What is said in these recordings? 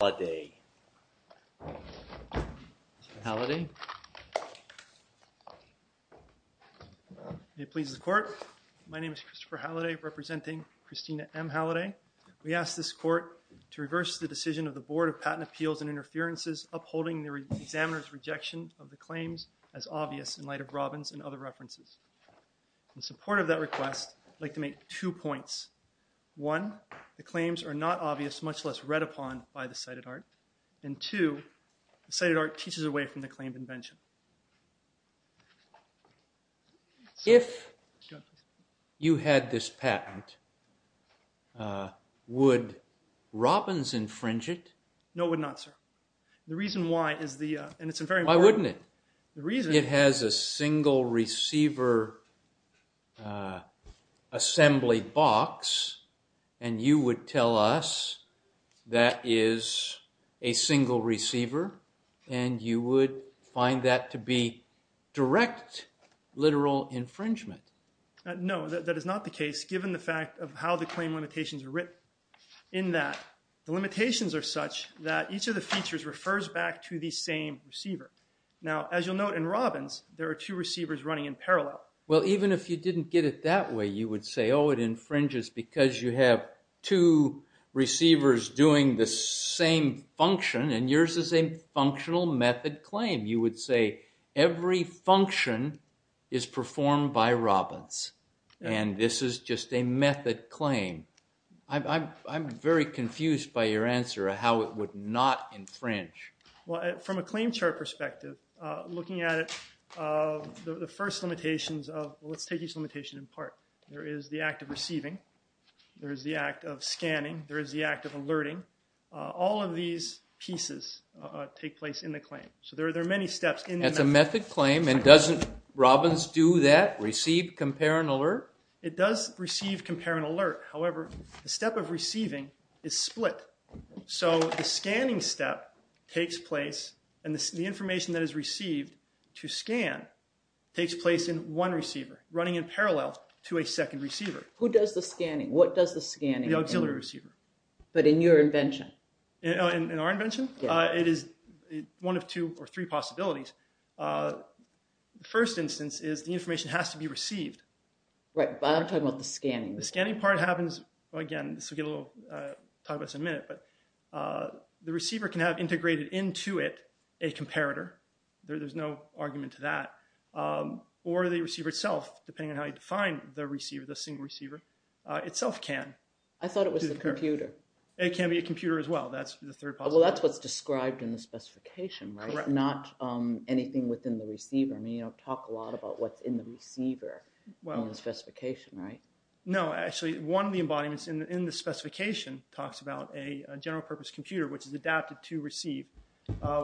My name is Christopher Halliday, representing Christina M. Halliday. We ask this Court to reverse the decision of the Board of Patent Appeals and Interferences upholding the examiner's rejection of the claims as obvious in light of Robbins and other references. In support of that request, I would like to make two points. One, the claims are not obvious, much less read upon by the cited art. And two, the cited art teaches away from the claimed invention. JUSTICE GOLDBERG If you had this patent, would Robbins infringe it? MR. HALLIDAY No, it would not, sir. The reason why is the… JUSTICE GOLDBERG Why wouldn't it? MR. HALLIDAY The reason… JUSTICE GOLDBERG It has a single receiver assembly box. And you would tell us that is a single receiver, and you would find that to be direct literal infringement. HALLIDAY No, that is not the case, given the fact of how the claim limitations are written. In that, the limitations are such that each of the features refers back to the same receiver. Now, as you'll note, in Robbins, there are two receivers running in parallel. JUSTICE GOLDBERG Well, even if you didn't get it that way, you would say, oh, it infringes because you have two receivers doing the same function, and yours is a functional method claim. You would say, every function is performed by Robbins, and this is just a method claim. I'm very confused by your answer of how it would not infringe. MR. HALLIDAY Well, from a claim chart perspective, looking at it, the first limitations of, well, let's take each limitation in part. There is the act of receiving. There is the act of scanning. There is the act of alerting. All of these pieces take place in the claim. So there are many steps. JUSTICE GOLDBERG That's a method claim, and doesn't Robbins do that, receive, compare, and alert? MR. HALLIDAY It does receive, compare, and alert. However, the step of receiving is split. So the scanning step takes place, and the information that is received to scan takes place in one receiver, running in parallel to a second receiver. JUSTICE GOLDBERG Who does the scanning? What does the scanning do? MR. HALLIDAY The auxiliary receiver. JUSTICE GOLDBERG But in your invention? MR. HALLIDAY In our invention? JUSTICE GOLDBERG Yes. MR. HALLIDAY It is one of two or three possibilities. The first instance is, the information has to be received. JUSTICE GOLDBERG Right, but I'm talking about the scanning. MR. HALLIDAY The scanning part happens, again, this will get a little, talk about this in a minute, but the receiver can have integrated into it a comparator. There's no argument to that. Or the receiver itself, depending on how you define the receiver, the single receiver, JUSTICE GOLDBERG I thought it was the computer. MR. HALLIDAY It can be a computer as well. That's the third possibility. JUSTICE GOLDBERG Well, that's what's described in the specification, right? MR. HALLIDAY Correct. JUSTICE GOLDBERG Not anything within the receiver. I mean, you don't talk a lot about what's in the receiver in the specification, right? MR. HALLIDAY No. Actually, one of the embodiments in the specification talks about a general purpose computer, which is adapted to receive,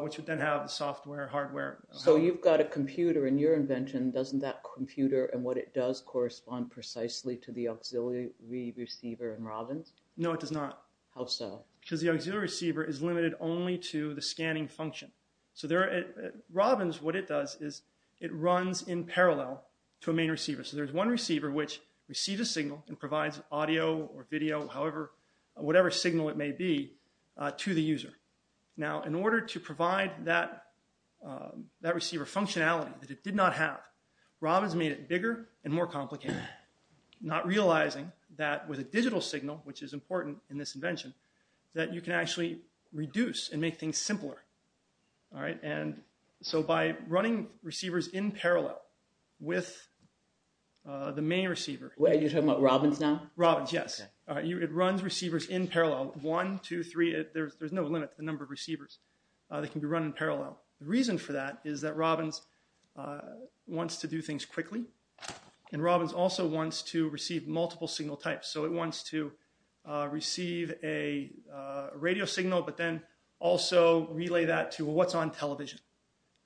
which would then have the software, hardware. JUSTICE GOLDBERG So you've got a computer in your invention. Doesn't that computer and what it does correspond precisely to the auxiliary receiver in Robbins? MR. HALLIDAY No, it does not. JUSTICE GOLDBERG How so? MR. HALLIDAY Because the auxiliary receiver is limited only to the scanning function. Robbins, what it does is it runs in parallel to a main receiver. So there's one receiver, which receives a signal and provides audio or video, whatever signal it may be, to the user. Now in order to provide that receiver functionality that it did not have, Robbins made it bigger and more complicated, not realizing that with a digital signal, which is important in this invention, that you can actually reduce and make things simpler, all right? And so by running receivers in parallel with the main receiver... JUSTICE GOLDBERG Wait, you're talking about Robbins now? MR. HALLIDAY ...in parallel. One, two, three, there's no limit to the number of receivers that can be run in parallel. The reason for that is that Robbins wants to do things quickly, and Robbins also wants to receive multiple signal types. So it wants to receive a radio signal, but then also relay that to what's on television.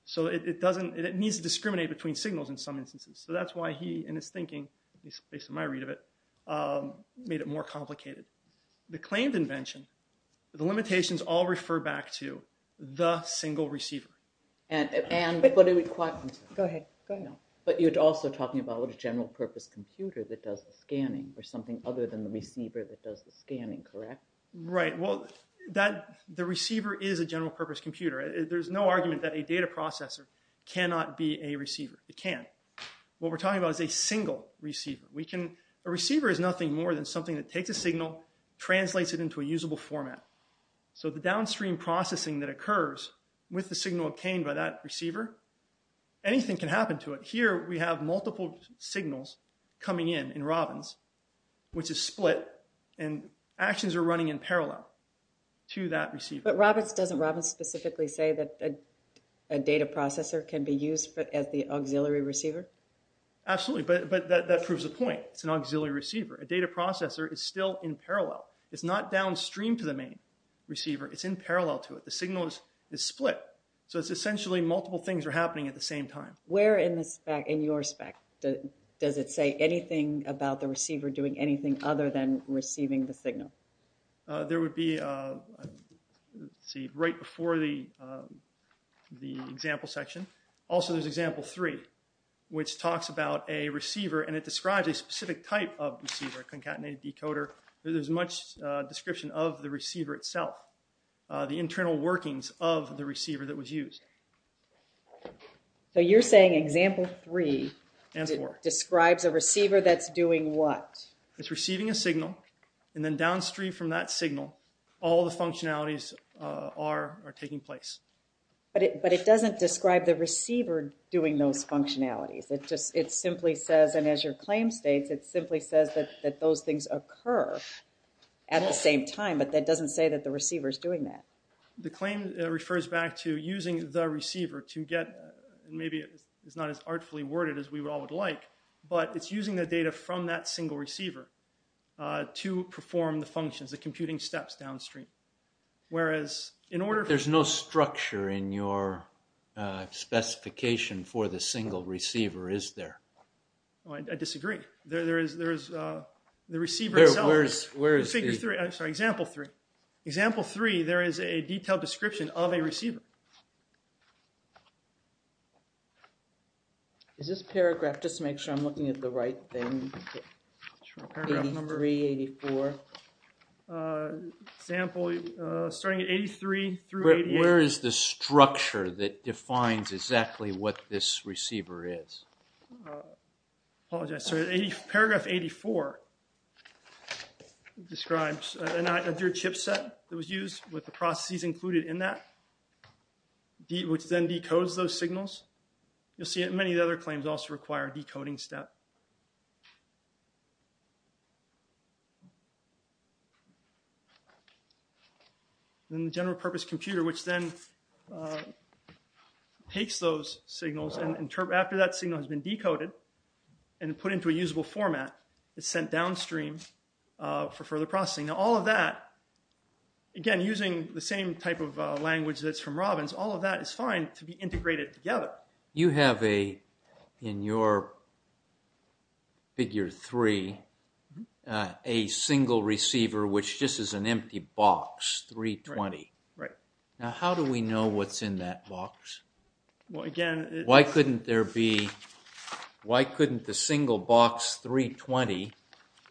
So it needs to discriminate between signals in some instances. So that's why he, in his thinking, at least based on my read of it, made it more complicated. The claimed invention, the limitations all refer back to the single receiver. JUSTICE GOLDBERG Go ahead. Go ahead. JUSTICE GOLDBERG But you're also talking about a general-purpose computer that does the scanning or something other than the receiver that does the scanning, correct? MR. HALLIDAY Right. Well, the receiver is a general-purpose computer. There's no argument that a data processor cannot be a receiver. It can't. What we're talking about is a single receiver. A receiver is nothing more than something that takes a signal, translates it into a usable format. So the downstream processing that occurs with the signal obtained by that receiver, anything can happen to it. Here we have multiple signals coming in in Robbins, which is split, and actions are running in parallel to that receiver. JUSTICE GOLDBERG But Robbins, doesn't Robbins specifically say that a data processor can be used as the auxiliary receiver? MR. HALLIDAY At this point, it's an auxiliary receiver. A data processor is still in parallel. It's not downstream to the main receiver. It's in parallel to it. The signal is split. So it's essentially multiple things are happening at the same time. JUSTICE GOLDBERG Where in the spec, in your spec, does it say anything about the receiver doing anything other than receiving the signal? MR. HALLIDAY There would be, let's see, right before the Also, there's example three, which talks about a receiver, and it describes a single specific type of receiver, a concatenated decoder. There's much description of the receiver itself, the internal workings of the receiver that JUSTICE GOLDBERG So you're saying example three describes a receiver that's doing what? MR. HALLIDAY It's receiving a signal, and then downstream from that signal, all the functionalities are taking place. JUSTICE GOLDBERG But it doesn't describe the receiver doing those functionalities. It simply says, and as your claim states, it simply says that those things occur at the same time, but that doesn't say that the receiver is doing that. MR. HALLIDAY The claim refers back to using the receiver to get, maybe it's not as artfully worded as we all would like, but it's using the data from that single receiver to perform the functions, the computing steps downstream. Whereas in order JUSTICE BREYER There's no structure in your specification for the single receiver, is there? HALLIDAY I disagree. There is the receiver itself. JUSTICE BREYER Where is the? MR. HALLIDAY Example three. Example three, there is a detailed description of a receiver. JUSTICE GOLDBERG Is this paragraph, just to make sure I'm looking at the right thing, 83, 84? MR. HALLIDAY Example, starting at 83 through 88. JUSTICE BREYER Where is the structure that defines exactly what this receiver is? HALLIDAY Apologize, sorry. Paragraph 84 describes a chipset that was used with the processes included in that, which then decodes those signals. You'll see that many of the other claims also require a decoding step. Then the general purpose computer, which then takes those signals and after that signal has been decoded and put into a usable format, is sent downstream for further processing. Now, all of that, again, using the same type of language that's from Robbins, all of that is fine to be integrated together. JUSTICE BREYER You have a, in your beginning, figure 3, a single receiver, which just is an empty box, 320. Now, how do we know what's in that box? Why couldn't there be, why couldn't the single box 320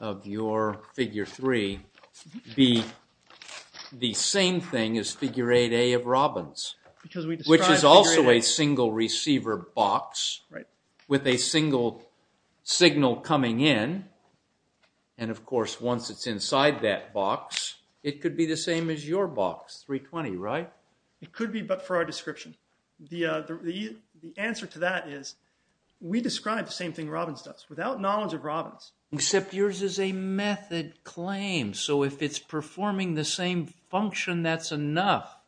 of your figure 3 be the same thing as figure 8A of Robbins? Which is also a single receiver box with a single signal coming in, and of course, once it's inside that box, it could be the same as your box, 320, right? It could be, but for our description. The answer to that is, we describe the same thing Robbins does, without knowledge of Robbins. Except yours is a method claim, so if it's performing the same function, that's enough.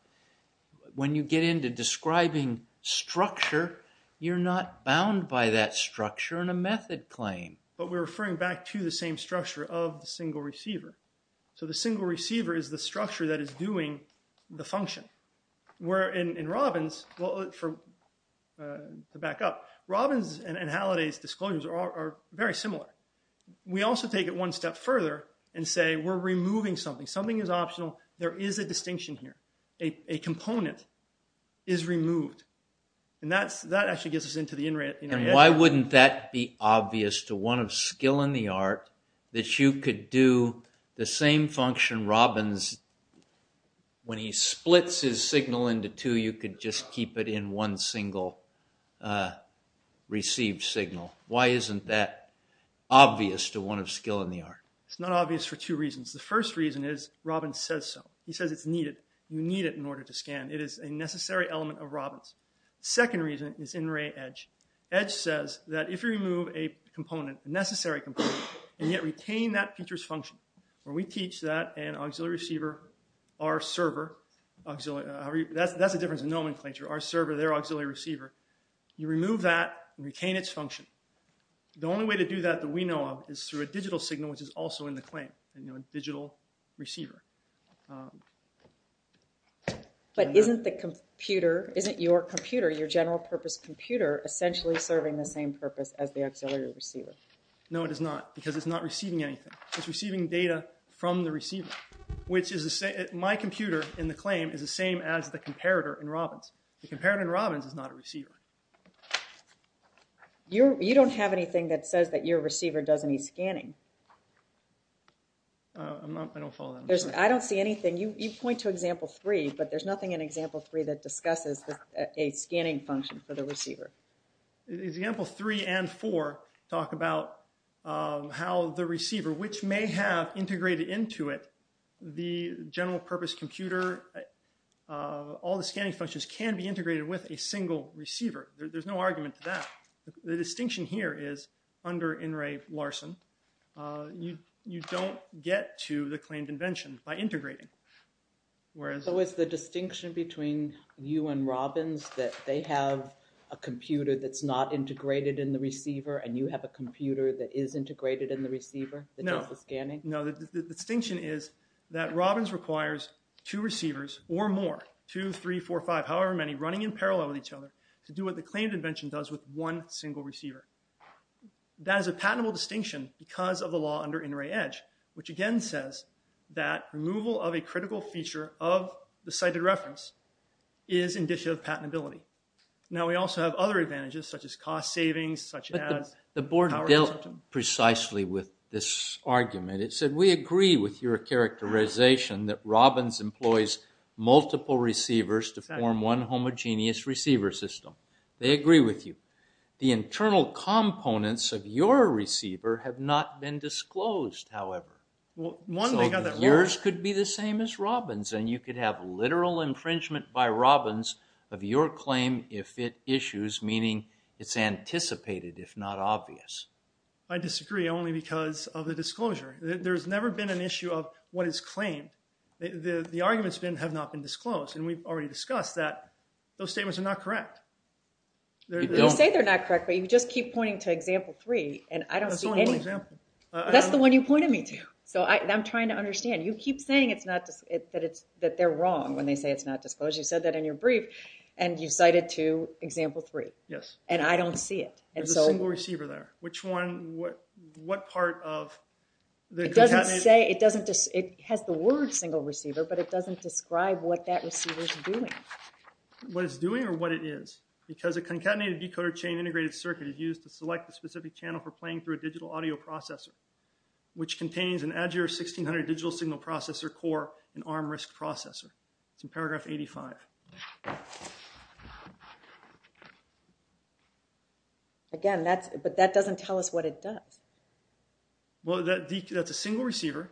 When you get into describing structure, you're not bound by that structure in a method claim. You're referring back to the same structure of the single receiver. So the single receiver is the structure that is doing the function. Where in Robbins, to back up, Robbins and Halliday's disclosures are very similar. We also take it one step further and say, we're removing something. Something is optional. There is a distinction here. A component is removed. And that actually gets us into the in-red. And why wouldn't that be obvious to one of skill in the art, that you could do the same function Robbins, when he splits his signal into two, you could just keep it in one single received signal. Why isn't that obvious to one of skill in the art? It's not obvious for two reasons. The first reason is, Robbins says so. He says it's needed. It is a necessary element of Robbins. Edge says that if you remove a component, a necessary component, and yet retain that feature's function, where we teach that an auxiliary receiver, our server, that's the difference in nomenclature, our server, their auxiliary receiver, you remove that and retain its function. The only way to do that that we know of is through a digital signal, which is also in the claim, a digital receiver. But isn't the computer, isn't your computer, your general purpose computer, serving the same purpose as the auxiliary receiver? No, it is not. Because it's not receiving anything. It's receiving data from the receiver. My computer, in the claim, is the same as the comparator in Robbins. The comparator in Robbins is not a receiver. You don't have anything that says that your receiver does any scanning. I don't follow that. I don't see anything. You point to example three, but there's nothing in example three that discusses a scanning function for the receiver. Example three and four talk about how the receiver, which may have integrated into it the general purpose computer, all the scanning functions, can be integrated with a single receiver. There's no argument to that. The distinction here is, under In re Larsen, you don't get to the claimed invention by integrating. So it's the distinction between you and Robbins that they have a computer that's not integrated in the receiver and you have a computer that is integrated in the receiver? No. The distinction is that Robbins requires two receivers or more, two, three, four, five, however many, running in parallel with each other, to do what the claimed invention does with one single receiver. That is a patentable distinction because of the law under In re Edge, which again says that removal of a critical feature of the cited reference is indicative of patentability. Now, we also have other advantages, such as cost savings, such as... But the board dealt precisely with this argument. It said, we agree with your characterization that Robbins employs multiple receivers to form one homogeneous receiver system. They agree with you. The internal components of your receiver have not been disclosed, however. So yours could be the same as Robbins and you could have literal infringement by Robbins of your claim if it issues, meaning it's anticipated, if not obvious. I disagree only because of the disclosure. There's never been an issue of what is claimed. The arguments have not been disclosed and we've already discussed that those statements are not correct. You say they're not correct, but you just keep pointing to example three and I don't see any... That's the one you pointed me to. So I'm trying to understand. You keep saying that they're wrong when they say it's not disclosed. You said that in your brief and you cited to example three. Yes. And I don't see it. There's a single receiver there. Which one? It has the word single receiver, but it doesn't describe what that receiver is doing. What it's doing or what it is? Because a concatenated decoder chain integrated circuit is used to select the specific channel for playing through a digital audio processor, which contains an Azure 1600 digital signal processor core and ARM RISC processor. It's in paragraph 85. Again, but that doesn't tell us what it does. Well, that's a single receiver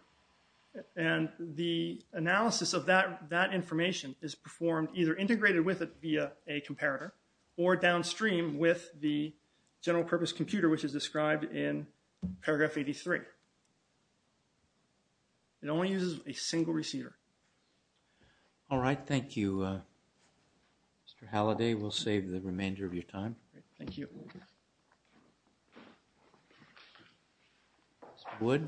and the analysis of that information is performed either integrated with it via a comparator or downstream with the general purpose computer which is described in paragraph 83. It only uses a single receiver. All right. Thank you, Mr. Halliday. We'll save the remainder of your time. Thank you. Mr. Wood.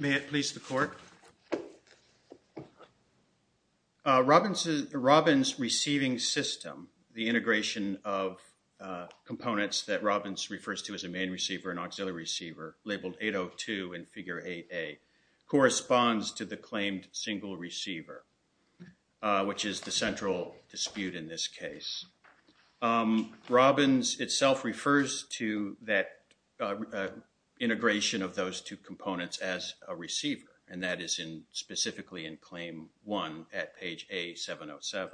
May it please the court. Robbins receiving system, the integration of components that Robbins refers to as a main receiver and auxiliary receiver, labeled 802 in figure 8A, corresponds to the claimed single receiver, which is the central dispute in this case. Robbins itself refers to that integration It's not a single receiver. It's not a single receiver. It's not a single receiver. It's an integration specifically in claim 1 at page A-707.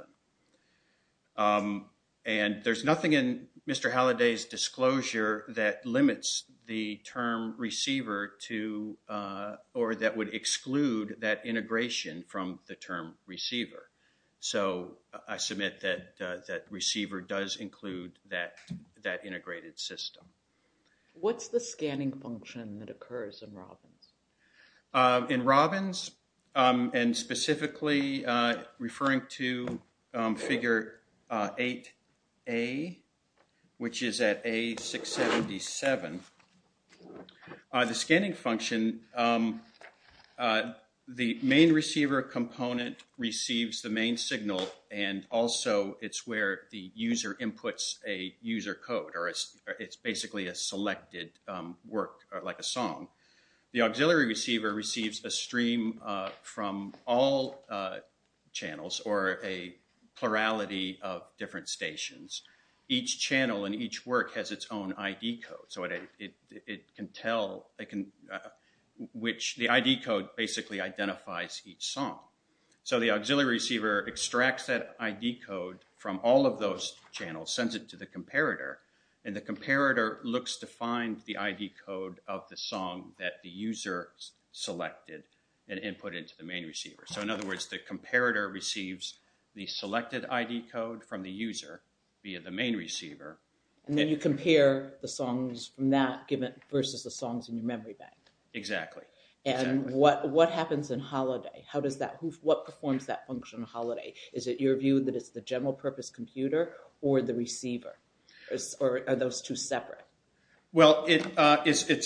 And there's nothing in Mr. Halliday's disclosure that limits the term receiver to or that would exclude that integration from the term receiver. So I submit that receiver does include that integrated system. What's the scanning function that occurs in Robbins? In Robbins, and specifically referring to figure 8A, which is at A-677, the scanning function, the main receiver component receives the main signal and also it's where the user inputs a user code or it's basically a selected work like a song. The auxiliary receiver receives a stream from all channels or a plurality of different stations. Each channel and each work has its own ID code. So it can tell, which the ID code basically identifies each song. So the auxiliary receiver extracts that ID code from all of those channels, sends it to the comparator, and the comparator looks to find the ID code of the song and input it into the main receiver. So in other words, the comparator receives the selected ID code from the user via the main receiver. And then you compare the songs from that versus the songs in your memory bank. Exactly. And what happens in Holiday? What performs that function in Holiday? Is it your view that it's the general purpose computer or the receiver? Or are those two separate? It's the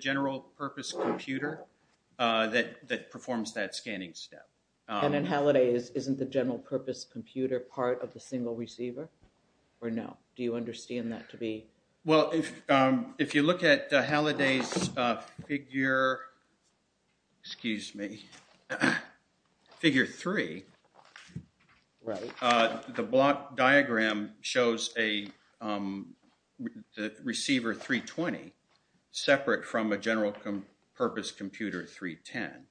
general purpose computer that performs that scanning step. And in Holiday, isn't the general purpose computer part of the single receiver? Or no? Do you understand that to be? Well, if you look at Holiday's figure, excuse me, figure three. Right. The block diagram shows a receiver 320 separate from a general purpose computer 310.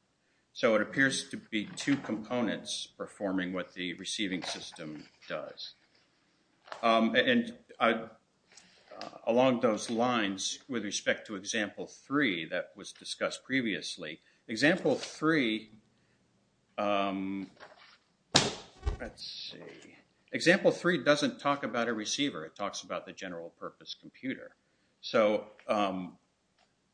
So it appears to be two components performing what the receiving system does. And along those lines with respect to example three that was discussed previously. Example three, let's see. Example three doesn't talk about a receiver. It talks about the general purpose computer. So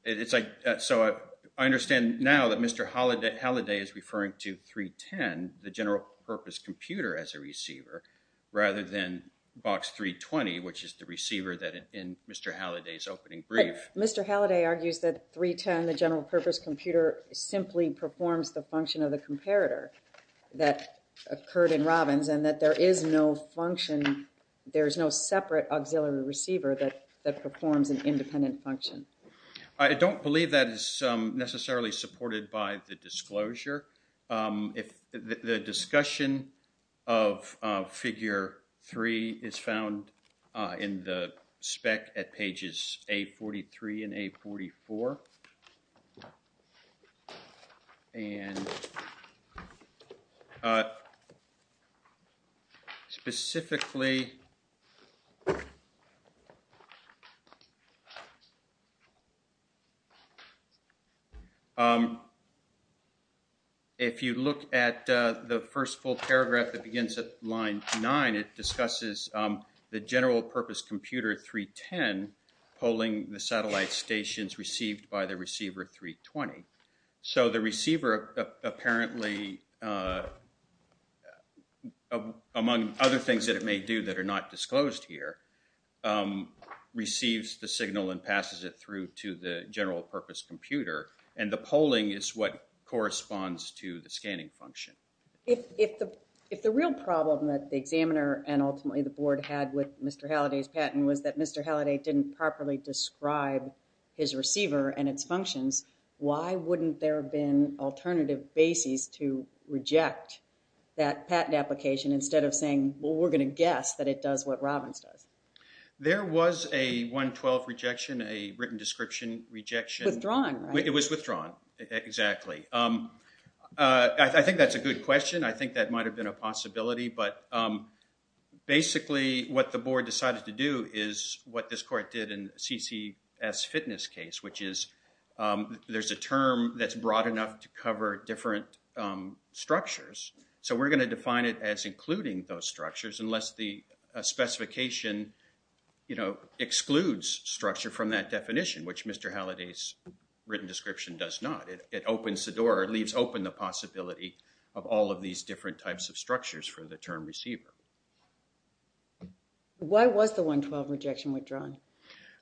it's like, so I understand now that Mr. Holiday is referring to 310, the general purpose computer as a receiver rather than box 320, which is the receiver that in Mr. Holiday's opening brief. Mr. Holiday argues that 310, the general purpose computer simply performs the function of the comparator that occurred in Robbins and that there is no function, there's no separate auxiliary receiver that performs an independent function. I don't believe that is necessarily supported by the disclosure. The discussion of figure three is found in the spec at pages A43 and A44. And specifically, if you look at the first full paragraph that begins at line nine, it discusses the general purpose computer 310 polling the satellite stations received by the receiver 320. So the receiver apparently among other things that it may do that are not disclosed here, receives the signal and passes it through to the general purpose computer and the polling is what corresponds to the scanning function. If the real problem that the examiner and ultimately the board had with Mr. Holiday's patent was that Mr. Holiday didn't properly describe his receiver and its functions, why wouldn't there have been alternative basis to reject that patent application instead of saying, well, we're going to guess that it does what Robbins There was a 112 rejection, a written description rejection. Withdrawn. It was withdrawn. Exactly. I think that's a good question. I think that might have been a possibility. But basically what the board decided to do is what this court did in CCS fitness case, which is there's a term that's broad enough to cover different structures. So we're going to define it as including those structures unless the specification excludes structure from that definition, which Mr. Holiday's written description does not. It opens the door, leaves open the possibility of all of these different types of structures for the term receiver. Why was the 112 rejection withdrawn?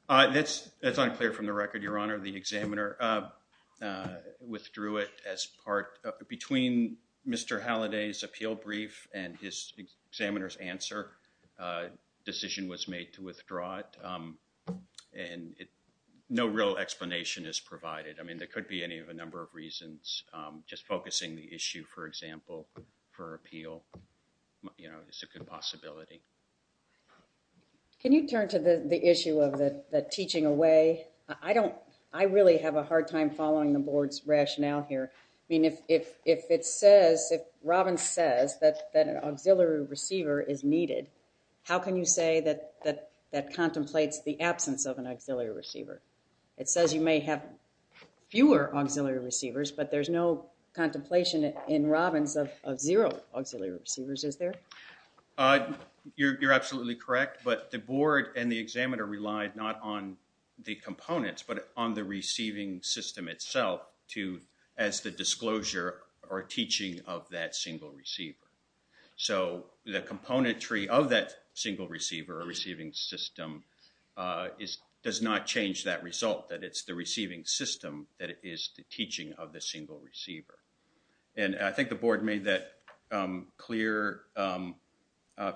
That's unclear from the record, Your Honor. The examiner withdrew it as part between Mr. Holiday's appeal brief and his examiner's answer. Decision was made to withdraw it. And it no real explanation is provided. I mean, there could be any of a number of reasons. Just focusing the issue, for example, for appeal, you know, is a good possibility. Can you turn to the issue of the teaching away? I don't I really have a hard time following the board's rationale here. I mean, if it says if Robbins says that an auxiliary receiver is needed, how can you say that that contemplates the absence of an auxiliary receiver? It says you may have fewer auxiliary receivers, but there's no contemplation in Robbins of zero auxiliary receivers, is there? You're absolutely correct, but the board and the examiner relied not on the receiving system itself to as the disclosure or teaching of that single receiver. So the component tree of that single receiver or receiving system is does not change that result, that it's the receiving system that is the teaching of the single receiver. And I think the board made that clear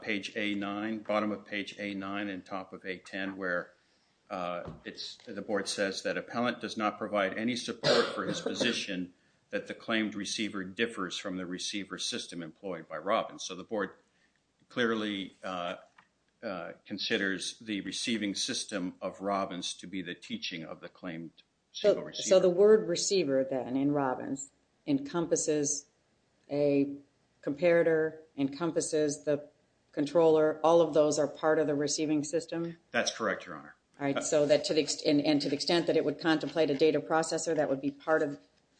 page A9, bottom of page A9 and top of A10 where it's the board says that appellant does not provide any support for his position that the claimed receiver differs from the receiver system employed by Robbins. So the board clearly considers the receiving system of Robbins to be the teaching of the claimed single receiver. receiver then in Robbins encompasses a comparator, encompasses the controller, all of those are part of the receiving system? That's correct, Your Honor. All right, so that to the extent that it would contemplate a data processor that would be part of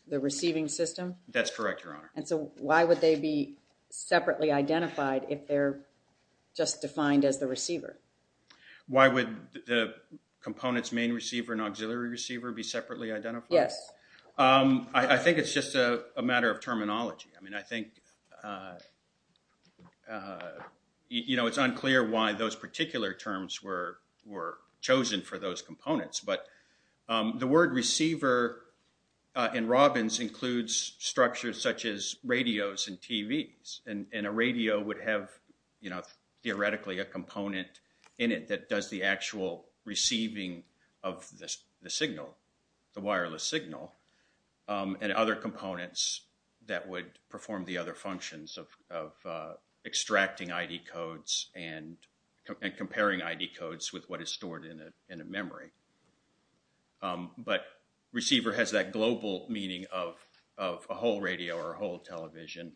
the receiving system? That's correct, Your Honor. And so why would they be separately identified if they're just defined as the receiver? Why would the components main receiver and auxiliary receiver be separately identified? Yes. I think it's just a matter of terminology. I mean, I think you know, it's unclear why those are chosen for those components, but the word receiver in Robbins includes structures such as radios and TVs and a radio would have, you know, theoretically a component in it that does the actual receiving of the signal, the wireless signal and other components that would perform the other functions of extracting ID codes and comparing ID codes with what is stored in a memory. But receiver has that global meaning of a whole radio or a whole television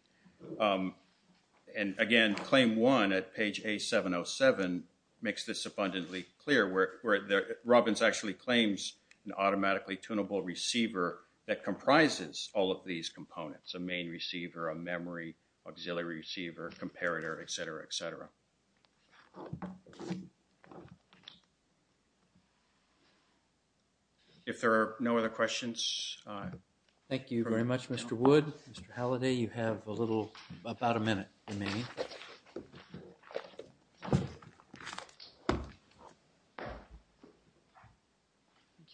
and again claim one at page A707 makes this abundantly clear where Robbins actually claims an automatically tunable receiver that comprises all of these components, a main receiver, a memory, auxiliary receiver, comparator, et cetera, et cetera. If there are no other questions. Thank you very much, Mr. Wood. Mr. Halliday, you have a little, about a minute remaining. Thank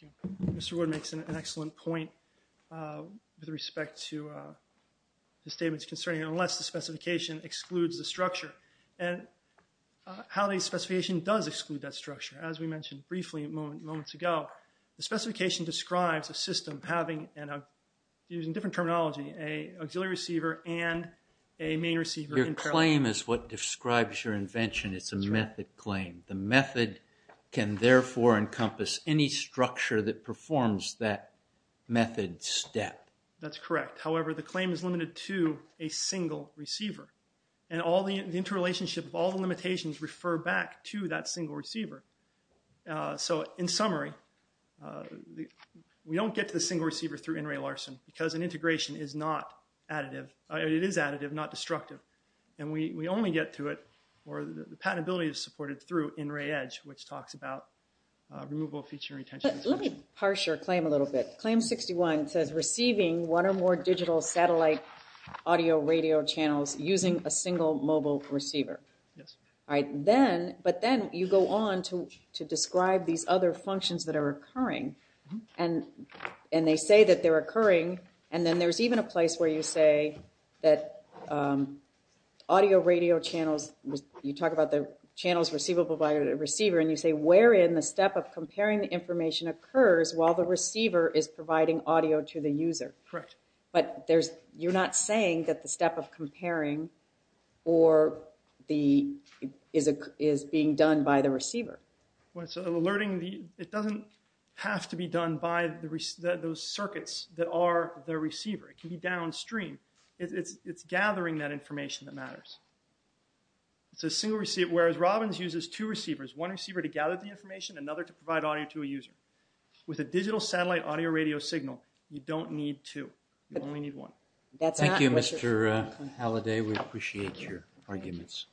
you. Mr. Wood makes an excellent point with respect to the statements concerning unless the specification excludes the structure and Halliday's specification does exclude that structure as we mentioned briefly moments ago. The specification describes a system having, using different terminology, an auxiliary receiver and a main receiver. Your claim is what describes your invention. It's a method claim. The method can therefore encompass any structure that performs that method step. That's correct. However, the claim is limited to a single receiver. And all the interrelationship, all the limitations refer back to that single receiver. So, in summary, we don't get to the single receiver through NRA Larson because an integration is not additive. It is additive, not destructive. And we only get to it, or the patentability is supported through NRA Edge, which talks about removal, feature, retention. Let me parse your claim a little bit. Claim 61 says receiving one or more digital satellite audio radio channels using a single mobile receiver. But then you go on to describe these other audio radio channels. You talk about the channels receivable by the receiver, and you say wherein the step of comparing the information occurs while the receiver is providing audio to the user. But you're not saying that the step of comparing is being done by the receiver. It doesn't have to be done by those circuits that are the receiver. It can be downstream. It's gathering that information that matters. It's a single receiver, whereas Robbins uses two receivers, one receiver to gather the information, another to provide audio to a user. With a digital satellite audio radio signal, you don't need two. You only need one. Thank you, Mr. Halliday. We appreciate your arguments.